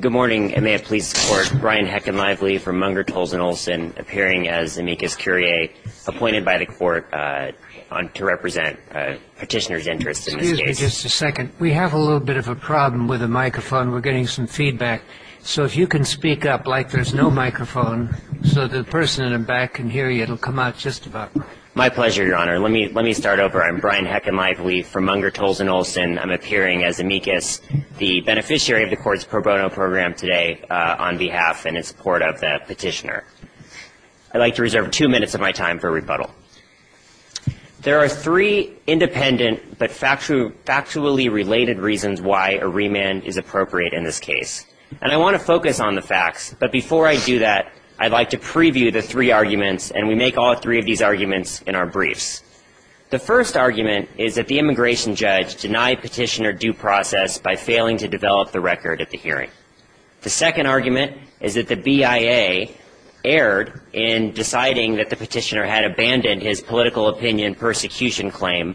Good morning, and may it please the Court, Brian Hecken-Lively from Munger, Tolles and Olson appearing as amicus curiae appointed by the Court to represent petitioner's interests in this case. Excuse me just a second. We have a little bit of a problem with the microphone. We're getting some feedback. So if you can speak up like there's no microphone so the person in the back can hear you, it'll come out just about right. My pleasure, Your Honor. Let me start over. I'm Brian Hecken-Lively from Munger, Tolles and Olson. I'm appearing as amicus, the beneficiary of the Court's pro bono program today on behalf and in support of the petitioner. I'd like to reserve two minutes of my time for rebuttal. There are three independent but factually related reasons why a remand is appropriate in this case. And I want to focus on the facts, but before I do that, I'd like to preview the three arguments, and we make all three of these arguments in our briefs. The first argument is that the immigration judge denied petitioner due process by failing to develop the record of the hearing. The second argument is that the BIA erred in deciding that the petitioner had abandoned his political opinion persecution claim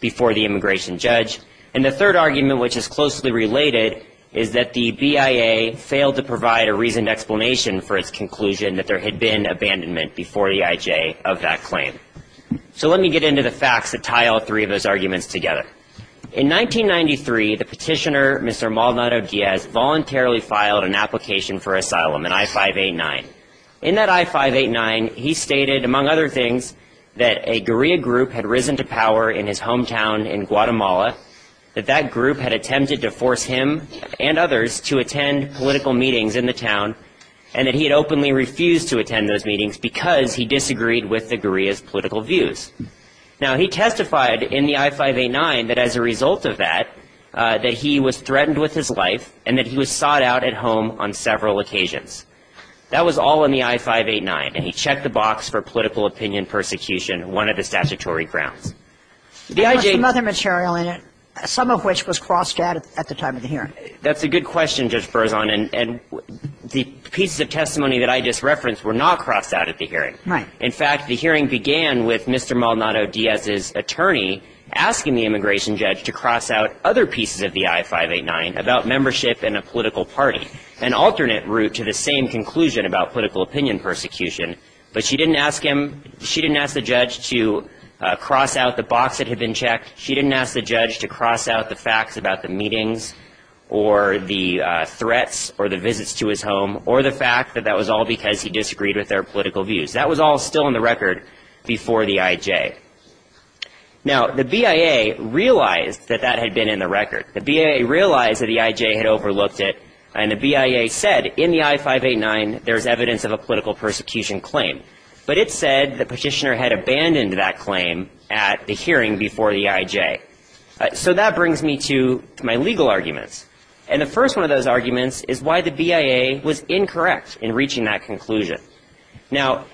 before the immigration judge. And the third argument, which is closely related, is that the BIA failed to provide a reasoned explanation for its conclusion that there had been abandonment before the IJ of that claim. So let me get into the facts that tie all three of those arguments together. In 1993, the petitioner, Mr. Maldonado Diaz, voluntarily filed an application for asylum, an I-589. In that I-589, he stated, among other things, that a guerrilla group had risen to power in his hometown in Guatemala, that that group had attempted to force him and others to attend political meetings in the town, and that he had openly refused to attend those meetings because he disagreed with the guerrillas' political views. Now, he testified in the I-589 that as a result of that, that he was threatened with his life and that he was sought out at home on several occasions. That was all in the I-589. And he checked the box for political opinion persecution, one of the statutory grounds. The IJ — There was some other material in it, some of which was crossed out at the time of the hearing. That's a good question, Judge Berzon. And the pieces of testimony that I just referenced were not crossed out at the hearing. Right. In fact, the hearing began with Mr. Maldonado Diaz's attorney asking the immigration judge to cross out other pieces of the I-589 about membership in a political party, an alternate route to the same conclusion about political opinion persecution. But she didn't ask him — she didn't ask the judge to cross out the box that had been checked. She didn't ask the judge to cross out the facts about the meetings or the threats or the visits to his home or the fact that that was all because he disagreed with their political views. That was all still in the record before the IJ. Now, the BIA realized that that had been in the record. The BIA realized that the IJ had overlooked it. And the BIA said in the I-589 there's evidence of a political persecution claim. But it said the petitioner had abandoned that claim at the hearing before the IJ. So that brings me to my legal arguments. And the first one of those arguments is why the BIA was incorrect in reaching that conclusion. Now,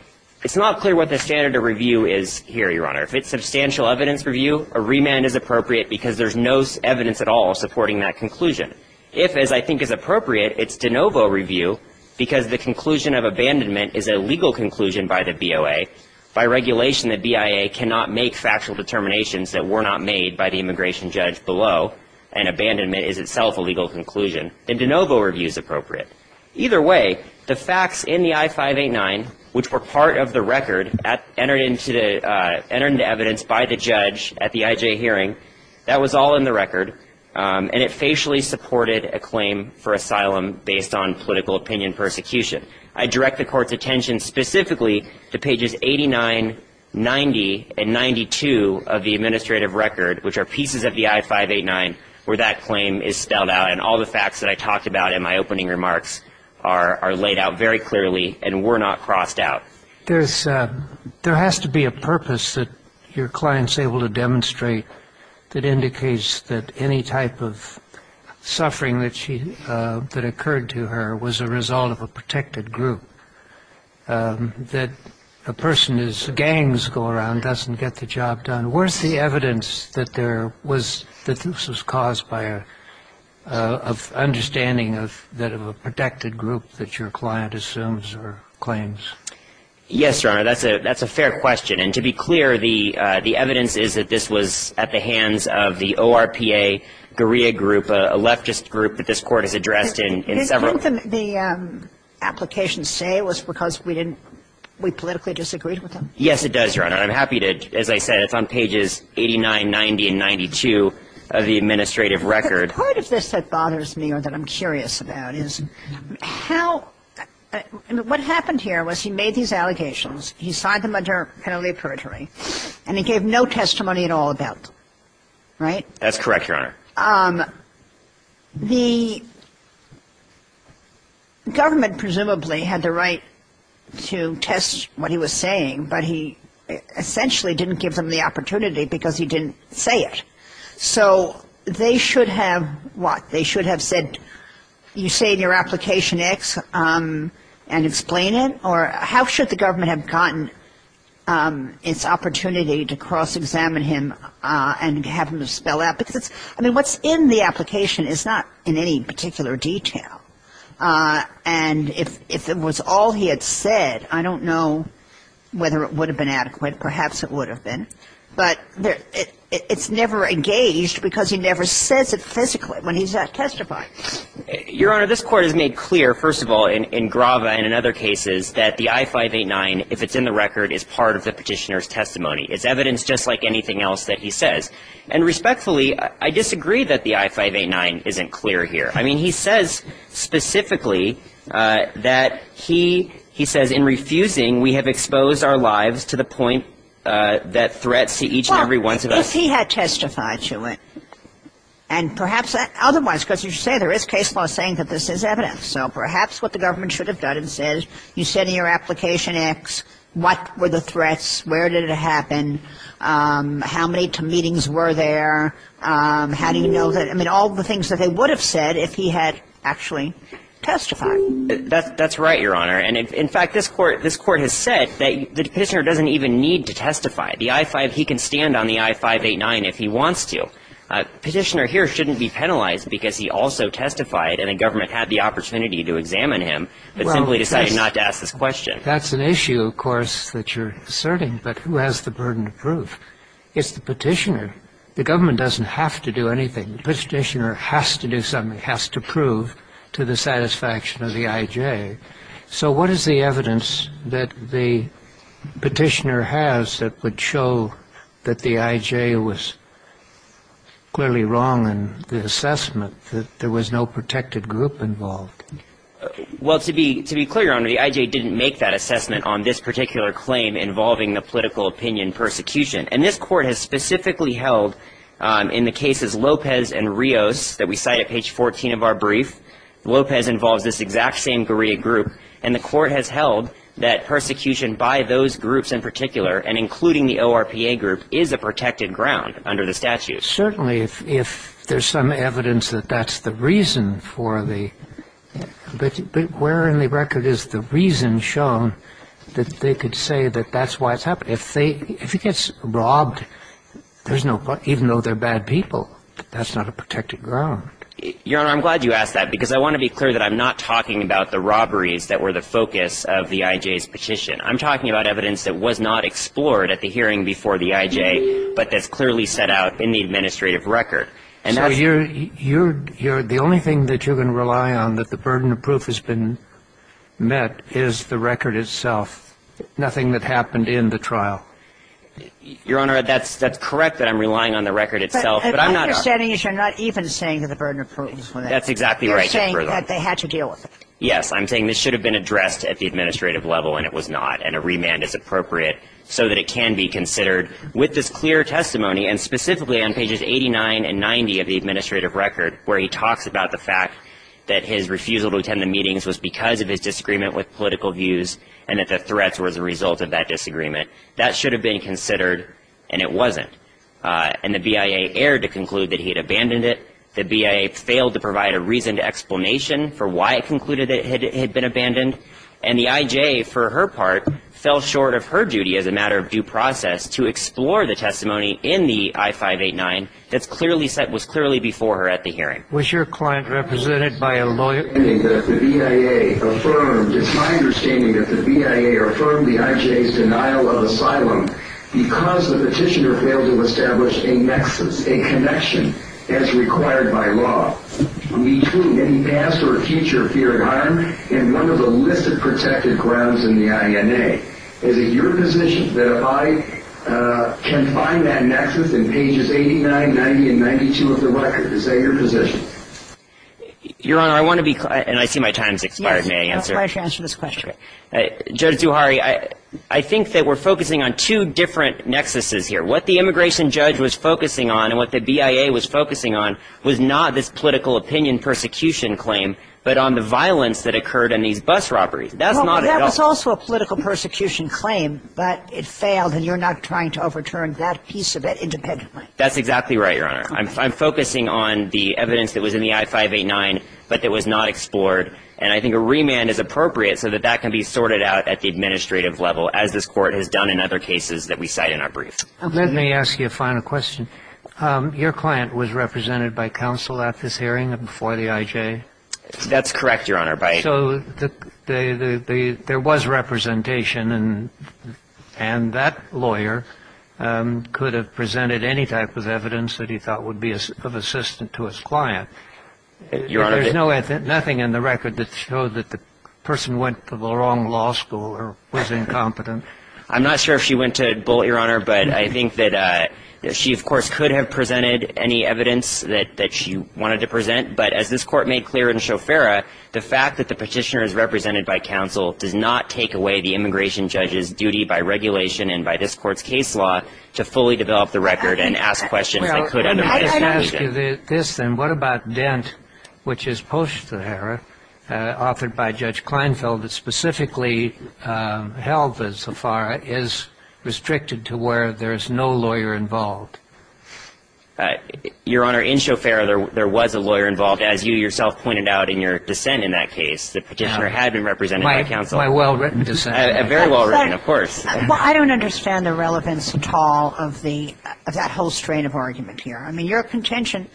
it's not clear what the standard of review is here, Your Honor. If it's substantial evidence review, a remand is appropriate because there's no evidence at all supporting that conclusion. If, as I think is appropriate, it's de novo review because the conclusion of abandonment is a legal conclusion by the BOA, by regulation the BIA cannot make factual determinations that were not made by the immigration judge below, and abandonment is itself a legal conclusion, then de novo review is appropriate. Either way, the facts in the I-589, which were part of the record, entered into evidence by the judge at the IJ hearing, that was all in the record. And it facially supported a claim for asylum based on political opinion persecution. I direct the Court's attention specifically to pages 89, 90, and 92 of the administrative record, which are pieces of the I-589 where that claim is spelled out, and all the facts that I talked about in my opening remarks are laid out very clearly and were not crossed out. There has to be a purpose that your client's able to demonstrate that indicates that any type of suffering that occurred to her was a result of a protected group, that a person whose gangs go around doesn't get the job done. And where's the evidence that there was, that this was caused by an understanding of that of a protected group that your client assumes or claims? Yes, Your Honor. That's a fair question. And to be clear, the evidence is that this was at the hands of the ORPA guerrilla group, a leftist group that this Court has addressed in several. Didn't the application say it was because we didn't, we politically disagreed with them? Yes, it does, Your Honor. I'm happy to, as I said, it's on pages 89, 90, and 92 of the administrative record. Part of this that bothers me or that I'm curious about is how, what happened here was he made these allegations, he signed them under penalty of perjury, and he gave no testimony at all about them. That's correct, Your Honor. The government presumably had the right to test what he was saying, but he essentially didn't give them the opportunity because he didn't say it. So they should have what? They should have said, you say in your application X and explain it? Or how should the government have gotten its opportunity to cross-examine him and have him spell out? Because it's, I mean, what's in the application is not in any particular detail. And if it was all he had said, I don't know whether it would have been adequate. Perhaps it would have been. But it's never engaged because he never says it physically when he's testifying. Your Honor, this Court has made clear, first of all, in Grava and in other cases, that the I-589, if it's in the record, is part of the petitioner's testimony. It's evidence just like anything else that he says. And respectfully, I disagree that the I-589 isn't clear here. I mean, he says specifically that he says, in refusing we have exposed our lives to the point that threats to each and every one of us. Well, if he had testified to it, and perhaps otherwise, because you say there is case law saying that this is evidence. So perhaps what the government should have done is said, you said in your application X, what were the threats? Where did it happen? How many meetings were there? How do you know that? I mean, all the things that they would have said if he had actually testified. That's right, Your Honor. And, in fact, this Court has said that the petitioner doesn't even need to testify. The I-589, he can stand on the I-589 if he wants to. Petitioner here shouldn't be penalized because he also testified, and the government had the opportunity to examine him, but simply decided not to ask this question. That's an issue, of course, that you're asserting, but who has the burden of proof? It's the petitioner. The government doesn't have to do anything. The petitioner has to do something, has to prove to the satisfaction of the IJ. So what is the evidence that the petitioner has that would show that the IJ was clearly wrong in the assessment that there was no protected group involved? Well, to be clear, Your Honor, the IJ didn't make that assessment on this particular claim involving the political opinion persecution. And this Court has specifically held in the cases Lopez and Rios that we cite at page 14 of our brief, Lopez involves this exact same guerrilla group, and the Court has held that persecution by those groups in particular, and including the ORPA group, is a protected ground under the statute. Certainly, if there's some evidence that that's the reason for the – but where in the record is the reason shown that they could say that that's why it's happening? If they – if he gets robbed, there's no – even though they're bad people, that's not a protected ground. Your Honor, I'm glad you asked that, because I want to be clear that I'm not talking about the robberies that were the focus of the IJ's petition. I'm talking about evidence that was not explored at the hearing before the IJ, but that's not the case. I'm talking about evidence that is not in the administrative record. And that's the – So you're – you're – the only thing that you're going to rely on that the burden of proof has been met is the record itself, nothing that happened in the trial. Your Honor, that's correct that I'm relying on the record itself, but I'm not – My understanding is you're not even saying that the burden of proof was met. There's 89 and 90 of the administrative record where he talks about the fact that his refusal to attend the meetings was because of his disagreement with political views and that the threats were the result of that disagreement. That should have been considered, and it wasn't. And the BIA erred to conclude that he had abandoned it. The BIA failed to provide a reasoned explanation for why it concluded it had been abandoned. And the IJ, for her part, fell short of her duty as a matter of due process to explore the testimony in the I-589 that's clearly set – was clearly before her at the hearing. Was your client represented by a lawyer? The BIA affirmed – it's my understanding that the BIA affirmed the IJ's denial of asylum because the petitioner failed to establish a nexus, a connection, as required by law between any past or future fear of harm and one of the illicit protected grounds in the INA. Is it your position that I can find that nexus in pages 89, 90, and 92 of the record? Is that your position? Your Honor, I want to be – and I see my time's expired. May I answer? Yes. I'll try to answer this question. Judge Zuhari, I think that we're focusing on two different nexuses here. What the immigration judge was focusing on and what the BIA was focusing on was not this political opinion persecution claim, but on the violence that occurred in these bus robberies. Well, that was also a political persecution claim, but it failed and you're not trying to overturn that piece of it independently. That's exactly right, Your Honor. I'm focusing on the evidence that was in the I-589, but that was not explored. And I think a remand is appropriate so that that can be sorted out at the administrative level as this Court has done in other cases that we cite in our brief. Let me ask you a final question. Your client was represented by counsel at this hearing and before the IJ? That's correct, Your Honor. So there was representation and that lawyer could have presented any type of evidence that he thought would be of assistance to his client. Your Honor. There's nothing in the record that showed that the person went to the wrong law school or was incompetent. I'm not sure if she went to Bullitt, Your Honor, but I think that she, of course, could have presented any evidence that she wanted to present. But as this Court made clear in Shofara, the fact that the petitioner is represented by counsel does not take away the immigration judge's duty by regulation and by this Court's case law to fully develop the record and ask questions that could undermine its validity. Well, let me just ask you this then. What about Dent, which is post-the Hara, offered by Judge Kleinfeld, that specifically held that Sofara is restricted to where there is no lawyer involved? Your Honor, in Shofara there was a lawyer involved, as you yourself pointed out in your dissent in that case. The petitioner had been represented by counsel. My well-written dissent. Very well-written, of course. Well, I don't understand the relevance at all of that whole strain of argument here. I mean, your contention,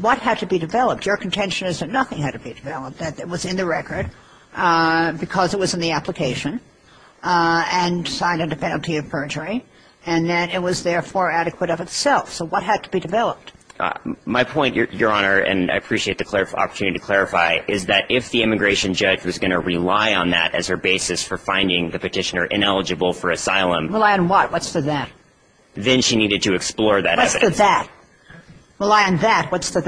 what had to be developed? Your contention is that nothing had to be developed, that it was in the record because it was in the application and signed under penalty of perjury, and that it was therefore adequate of itself. So what had to be developed? My point, Your Honor, and I appreciate the opportunity to clarify, is that if the immigration judge was going to rely on that as her basis for finding the petitioner ineligible for asylum. Rely on what? What's the that? Then she needed to explore that evidence. What's the that? Rely on that. What's the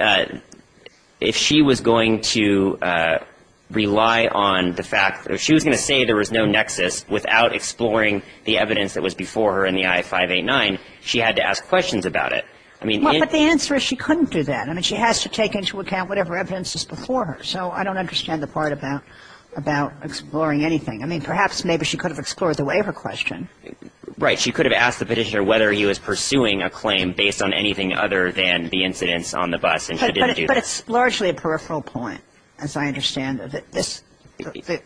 that? If she was going to rely on the fact, if she was going to say there was no nexus without exploring the evidence that was before her in the I-589, she had to ask questions about it. I mean the answer is she couldn't do that. I mean, she has to take into account whatever evidence is before her. So I don't understand the part about exploring anything. I mean, perhaps maybe she could have explored the waiver question. Right. She could have asked the petitioner whether he was pursuing a claim based on anything other than the incidents on the bus, and she didn't do that. But it's largely a peripheral point, as I understand, of the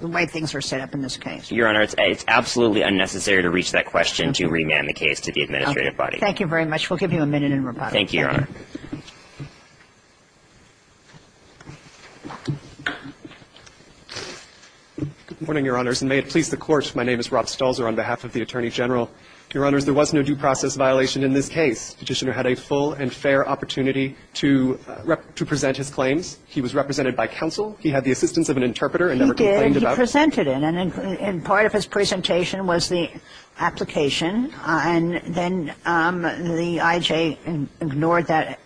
way things are set up in this case. Your Honor, it's absolutely unnecessary to reach that question to remand the case to the administrative body. Thank you very much. We'll give you a minute in rebuttal. Thank you, Your Honor. Good morning, Your Honors, and may it please the Court, my name is Rob Stulzer on behalf of the Attorney General. Your Honors, there was no due process violation in this case. Petitioner had a full and fair opportunity to present his claims. He was represented by counsel. He had the assistance of an interpreter and never complained about it. He did, and he presented it. And part of his presentation was the application. And then the IJ ignored that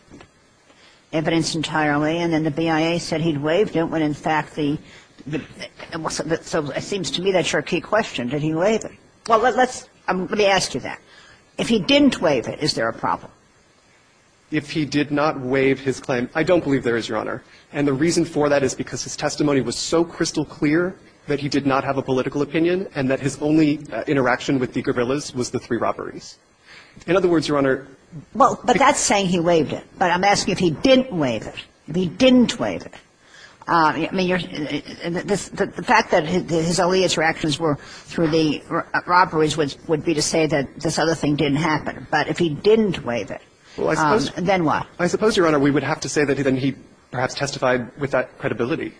evidence entirely. And then the BIA said he'd waived it when, in fact, the – so it seems to me that's your key question. Did he waive it? Well, let's – let me ask you that. If he didn't waive it, is there a problem? If he did not waive his claim, I don't believe there is, Your Honor. And the reason for that is because his testimony was so crystal clear that he did not have a political opinion and that his only interaction with the guerrillas was the three robberies. In other words, Your Honor – Well, but that's saying he waived it. But I'm asking if he didn't waive it. If he didn't waive it. I mean, you're – the fact that his only interactions were through the robberies would be to say that this other thing didn't happen. But if he didn't waive it, then what? I suppose, Your Honor, we would have to say that then he perhaps testified with that credibility.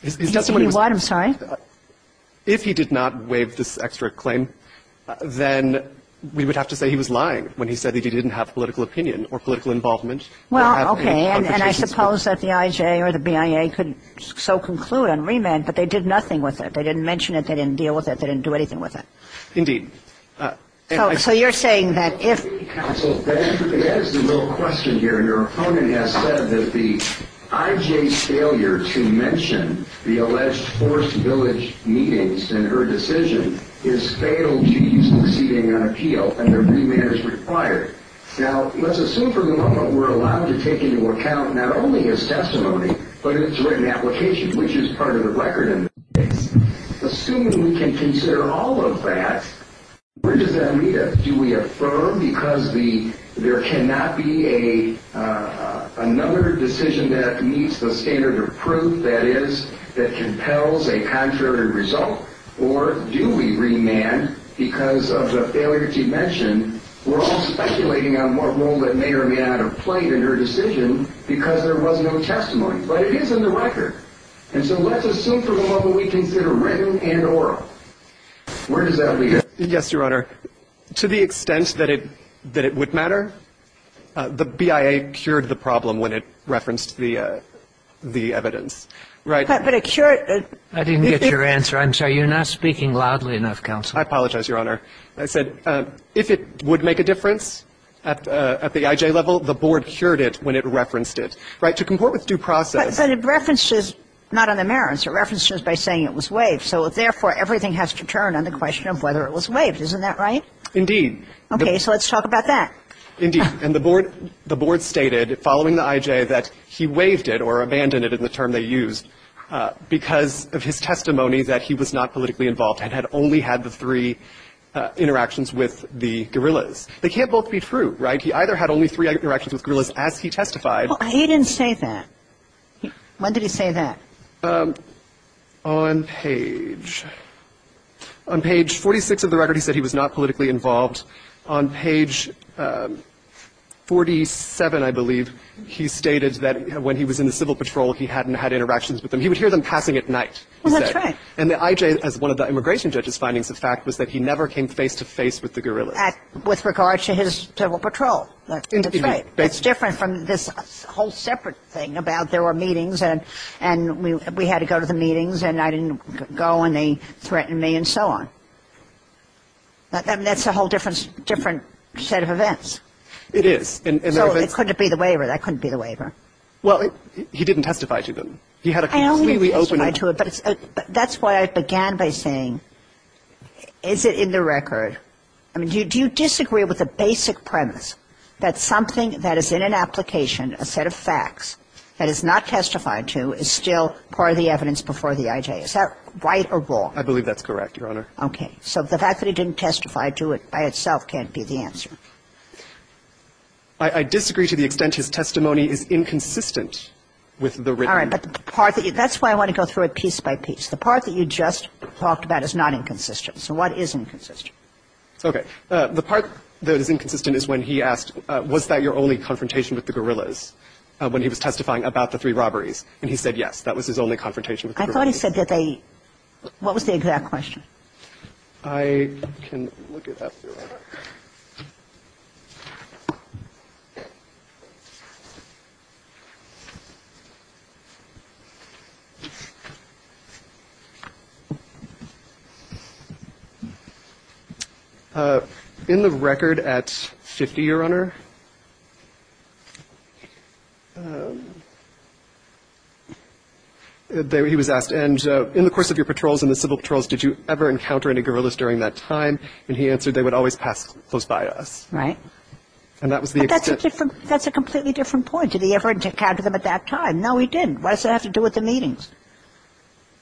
His testimony was – He did what? I'm sorry? If he did not waive this extra claim, then we would have to say he was lying when he said that he didn't have political opinion or political involvement. Well, okay. And I suppose that the IJ or the BIA could so conclude on remand, but they did nothing with it. They didn't mention it. They didn't deal with it. They didn't do anything with it. Indeed. So you're saying that if – Counsel, the answer to that is the real question here. Your opponent has said that the IJ's failure to mention the alleged forced village meetings in her decision is fatal to his proceeding on appeal, and that remand is required. Now, let's assume for a moment we're allowed to take into account not only his testimony, but his written application, which is part of the record in this case. Assuming we can consider all of that, where does that meet us? Do we affirm because there cannot be another decision that meets the standard of proof, that is, that compels a contrary result? Or do we remand because of the failure to mention? We're all speculating on what role that may or may not have played in her decision because there was no testimony. But it is in the record. And so let's assume for a moment we consider written and oral. Where does that meet us? Yes, Your Honor. To the extent that it would matter, the BIA cured the problem when it referenced the evidence. Right? But a cure – I didn't get your answer. I'm sorry. You're not speaking loudly enough, Counsel. I apologize, Your Honor. I said if it would make a difference at the IJ level, the Board cured it when it referenced Right? To comport with due process – But it references – not on the merits. It references by saying it was waived. So therefore, everything has to turn on the question of whether it was waived. Isn't that right? Indeed. Okay. So let's talk about that. Indeed. And the Board – the Board stated following the IJ that he waived it or abandoned it in the term they used because of his testimony that he was not politically involved and had only had the three interactions with the guerrillas. They can't both be true, right? He either had only three interactions with guerrillas as he testified – Well, he didn't say that. When did he say that? On page – on page 46 of the record, he said he was not politically involved. On page 47, I believe, he stated that when he was in the Civil Patrol, he hadn't had interactions with them. He would hear them passing at night, he said. Well, that's right. And the IJ, as one of the immigration judge's findings of fact, was that he never came face-to-face with the guerrillas. With regard to his Civil Patrol. That's right. That's different from this whole separate thing about there were meetings and we had to go to the meetings and I didn't go and they threatened me and so on. I mean, that's a whole different set of events. It is. So it couldn't be the waiver. That couldn't be the waiver. Well, he didn't testify to them. He had a completely open – I only testified to it, but that's why I began by saying, is it in the record? I mean, do you disagree with the basic premise that something that is in an application, a set of facts, that is not testified to is still part of the evidence before the IJ? Is that right or wrong? I believe that's correct, Your Honor. Okay. So the fact that he didn't testify to it by itself can't be the answer. I disagree to the extent his testimony is inconsistent with the written – All right. But the part that you – that's why I want to go through it piece by piece. The part that you just talked about is not inconsistent. So what is inconsistent? Okay. The part that is inconsistent is when he asked, was that your only confrontation with the guerrillas when he was testifying about the three robberies? And he said, yes, that was his only confrontation with the guerrillas. I thought he said that they – what was the exact question? I can look it up, Your Honor. In the record at 50, Your Honor, he was asked, and in the course of your patrols and the civil patrols, did you ever encounter any guerrillas during that time? And he answered, they would always pass close by us. Right. And that was the extent – But that's a different – that's a completely different point. Did he ever encounter them at that time? No, he didn't. What does that have to do with the meetings?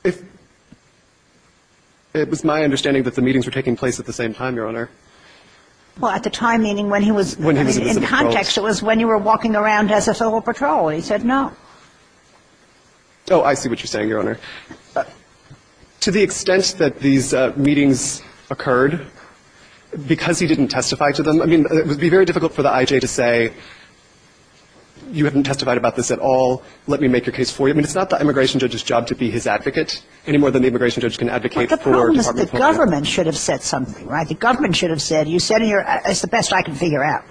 If – it was my understanding that the meetings were taking place at the same time, Your Honor. Well, at the time, meaning when he was – When he was in the civil patrols. In context, it was when you were walking around as a civil patrol. He said no. Oh, I see what you're saying, Your Honor. To the extent that these meetings occurred, because he didn't testify to them – I mean, it would be very difficult for the IJ to say, you haven't testified about this at all, let me make your case for you. I mean, it's not the immigration judge's job to be his advocate any more than the immigration judge can advocate for Department of Homeland Security. But the problem is the government should have said something, right? The government should have said, you said in your – it's the best I can figure out,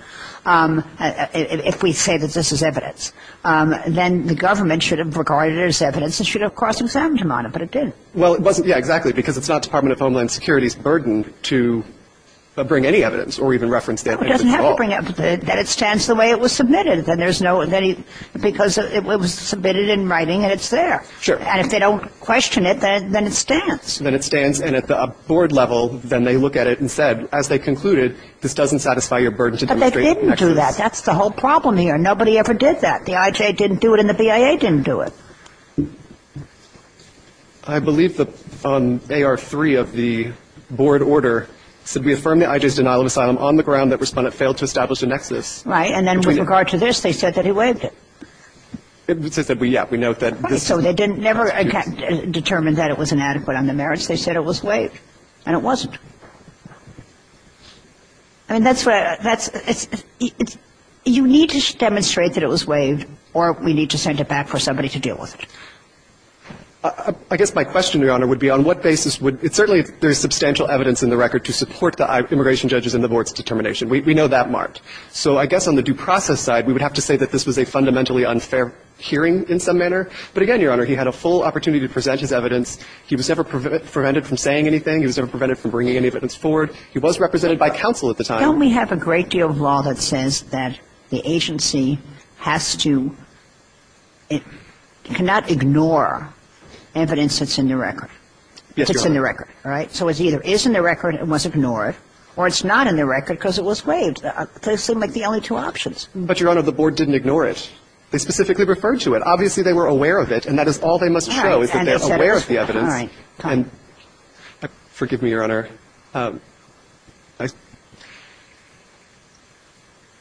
if we say that this is evidence. Then the government should have regarded it as evidence and should have cross-examined him on it, but it didn't. Well, it wasn't – yeah, exactly, because it's not Department of Homeland Security's burden to bring any evidence or even reference that evidence at all. It doesn't have to bring – that it stands the way it was submitted. Then there's no – because it was submitted in writing and it's there. Sure. And if they don't question it, then it stands. Then it stands, and at the board level, then they look at it and said, as they concluded, this doesn't satisfy your burden to demonstrate – But they didn't do that. That's the whole problem here. Nobody ever did that. The IJ didn't do it and the BIA didn't do it. I believe on AR3 of the board order, it said, we affirm the IJ's denial of asylum on the ground that respondent failed to establish a nexus. Right. And then with regard to this, they said that he waived it. They said, yeah, we note that this – Right, so they didn't – never determined that it was inadequate on the merits. They said it was waived, and it wasn't. I mean, that's what I – that's – you need to demonstrate that it was waived or we need to send it back for somebody to deal with it. I guess my question, Your Honor, would be on what basis would – it's certainly there's substantial evidence in the record to support the immigration judges and the board's determination. We know that marked. So I guess on the due process side, we would have to say that this was a fundamentally unfair hearing in some manner. But again, Your Honor, he had a full opportunity to present his evidence. He was never prevented from saying anything. He was never prevented from bringing any evidence forward. He was represented by counsel at the time. Don't we have a great deal of law that says that the agency has to – cannot ignore evidence that's in the record? Yes, Your Honor. That's in the record, right? So it either is in the record and was ignored, or it's not in the record because it was waived. Those seem like the only two options. But, Your Honor, the board didn't ignore it. They specifically referred to it. Obviously, they were aware of it, and that is all they must show is that they're aware of the evidence. All right. And forgive me, Your Honor.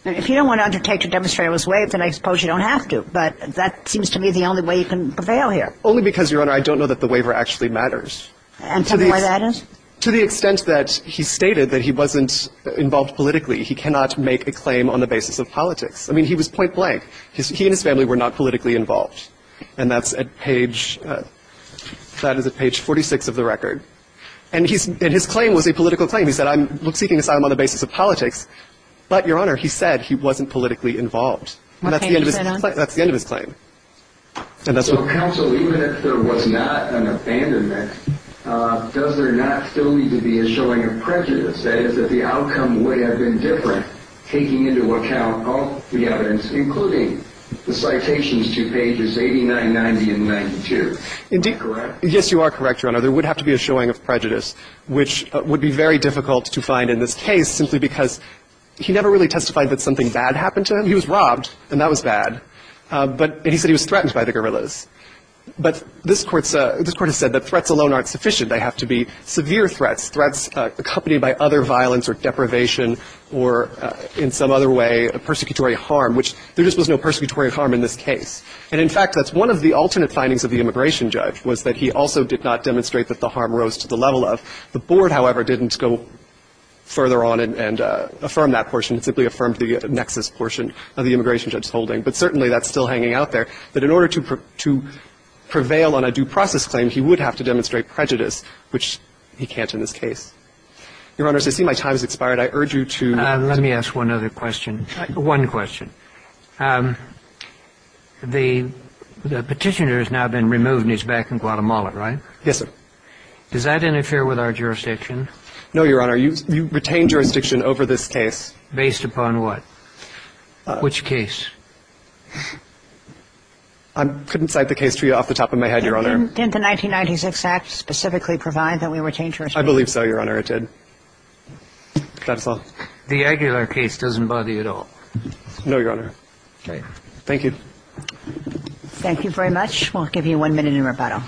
If you don't want to undertake to demonstrate it was waived, then I suppose you don't have to. But that seems to me the only way you can prevail here. Only because, Your Honor, I don't know that the waiver actually matters. And tell me why that is? To the extent that he stated that he wasn't involved politically. He cannot make a claim on the basis of politics. I mean, he was point blank. He and his family were not politically involved. And that's at page 46 of the record. And his claim was a political claim. He said, I'm seeking asylum on the basis of politics. But, Your Honor, he said he wasn't politically involved. And that's the end of his claim. So, counsel, even if there was not an abandonment, does there not still need to be a showing of prejudice, that is, that the outcome would have been different, taking into account all the evidence, including the citations to pages 89, 90, and 92? Am I correct? Yes, you are correct, Your Honor. There would have to be a showing of prejudice, which would be very difficult to find in this case, simply because he never really testified that something bad happened to him. He was robbed. And that was bad. But he said he was threatened by the guerrillas. But this Court has said that threats alone aren't sufficient. They have to be severe threats, threats accompanied by other violence or deprivation or, in some other way, persecutory harm, which there just was no persecutory harm in this case. And, in fact, that's one of the alternate findings of the immigration judge, was that he also did not demonstrate that the harm rose to the level of. The Board, however, didn't go further on and affirm that portion. It simply affirmed the nexus portion of the immigration judge's holding. But certainly that's still hanging out there, that in order to prevail on a due process claim, he would have to demonstrate prejudice, which he can't in this case. Your Honor, as I see my time has expired, I urge you to. Let me ask one other question. One question. The petitioner has now been removed and is back in Guatemala, right? Yes, sir. Does that interfere with our jurisdiction? No, Your Honor. You retain jurisdiction over this case. Based upon what? Which case? I couldn't cite the case to you off the top of my head, Your Honor. Didn't the 1996 Act specifically provide that we retain jurisdiction? I believe so, Your Honor. It did. Counsel. The Aguilar case doesn't bother you at all? No, Your Honor. Okay. Thank you. Thank you very much. We'll give you one minute in rebuttal.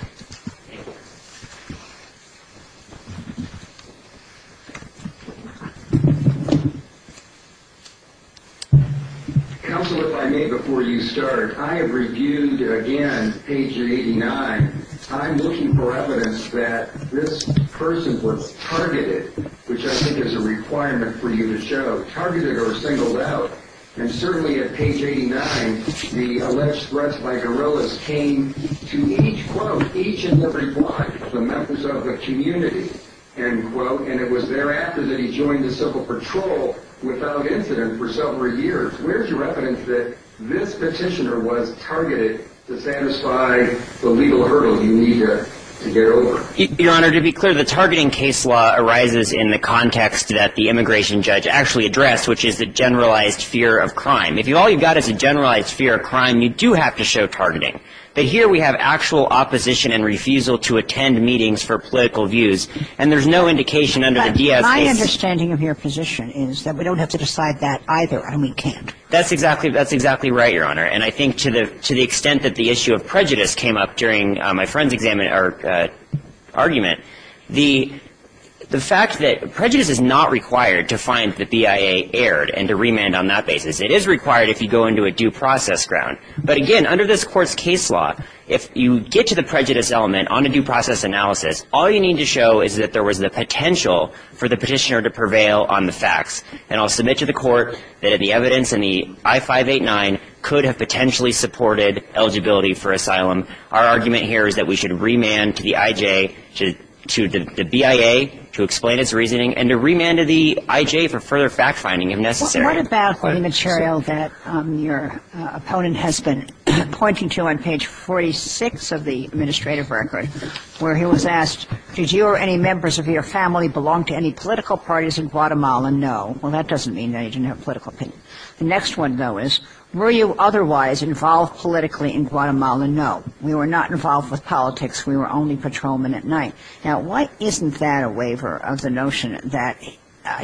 Counsel, if I may, before you start, I have reviewed again, page 89. I'm looking for evidence that this person was targeted, which I think is a requirement for you to show. Targeted or singled out. And certainly at page 89, the alleged threats by guerrillas came to each and every one of the members of the community. And it was thereafter that he joined the Civil Patrol without incident for several years. Where's your evidence that this petitioner was targeted to satisfy the legal hurdles you need to get over? Your Honor, to be clear, the targeting case law arises in the context that the immigration judge actually addressed, which is the generalized fear of crime. If all you've got is a generalized fear of crime, you do have to show targeting. But here we have actual opposition and refusal to attend meetings for political views. And there's no indication under the DS case. My understanding of your position is that we don't have to decide that either, and we can't. That's exactly right, Your Honor. And I think to the extent that the issue of prejudice came up during my friend's argument, the fact that prejudice is not required to find the BIA erred and to remand on that basis. It is required if you go into a due process ground. But again, under this Court's case law, if you get to the prejudice element on a due process analysis, all you need to show is that there was the potential for the petitioner to prevail on the facts. And I'll submit to the Court that the evidence in the I-589 could have potentially supported eligibility for asylum. Our argument here is that we should remand to the IJ, to the BIA, to explain its reasoning, and to remand to the IJ for further fact-finding if necessary. What about the material that your opponent has been pointing to on page 46 of the administrative record, where he was asked, did you or any members of your family belong to any political parties in Guatemala? No. Well, that doesn't mean that he didn't have political opinion. The next one, though, is were you otherwise involved politically in Guatemala? No. We were not involved with politics. We were only patrolmen at night. Now, why isn't that a waiver of the notion that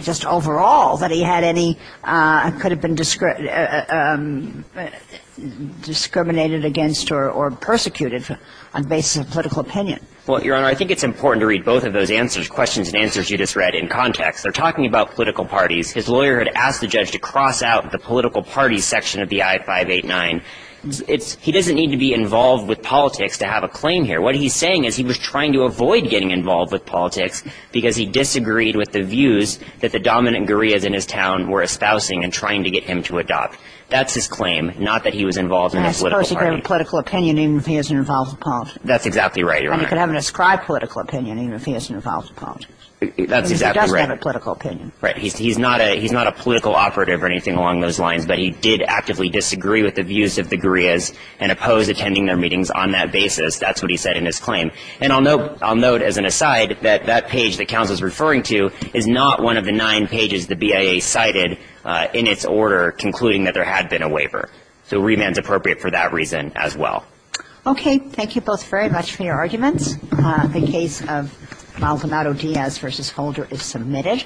just overall that he had any, could have been discriminated against or persecuted on the basis of political opinion? Well, Your Honor, I think it's important to read both of those answers, questions and answers you just read, in context. They're talking about political parties. His lawyer had asked the judge to cross out the political parties section of the I-589. He doesn't need to be involved with politics to have a claim here. What he's saying is he was trying to avoid getting involved with politics because he disagreed with the views that the dominant guerrillas in his town were espousing and trying to get him to adopt. That's his claim, not that he was involved in a political party. I suppose he could have a political opinion even if he isn't involved with politics. That's exactly right, Your Honor. And he could have an ascribed political opinion even if he isn't involved with politics. That's exactly right. Because he doesn't have a political opinion. Right. He's not a political operative or anything along those lines, but he did actively disagree with the views of the guerrillas and opposed attending their meetings on that basis. That's what he said in his claim. And I'll note as an aside that that page that counsel is referring to is not one of the nine pages the BIA cited in its order concluding that there had been a waiver. So remand is appropriate for that reason as well. Okay. Thank you both very much for your arguments. The case of Maldonado-Diaz v. Holder is submitted.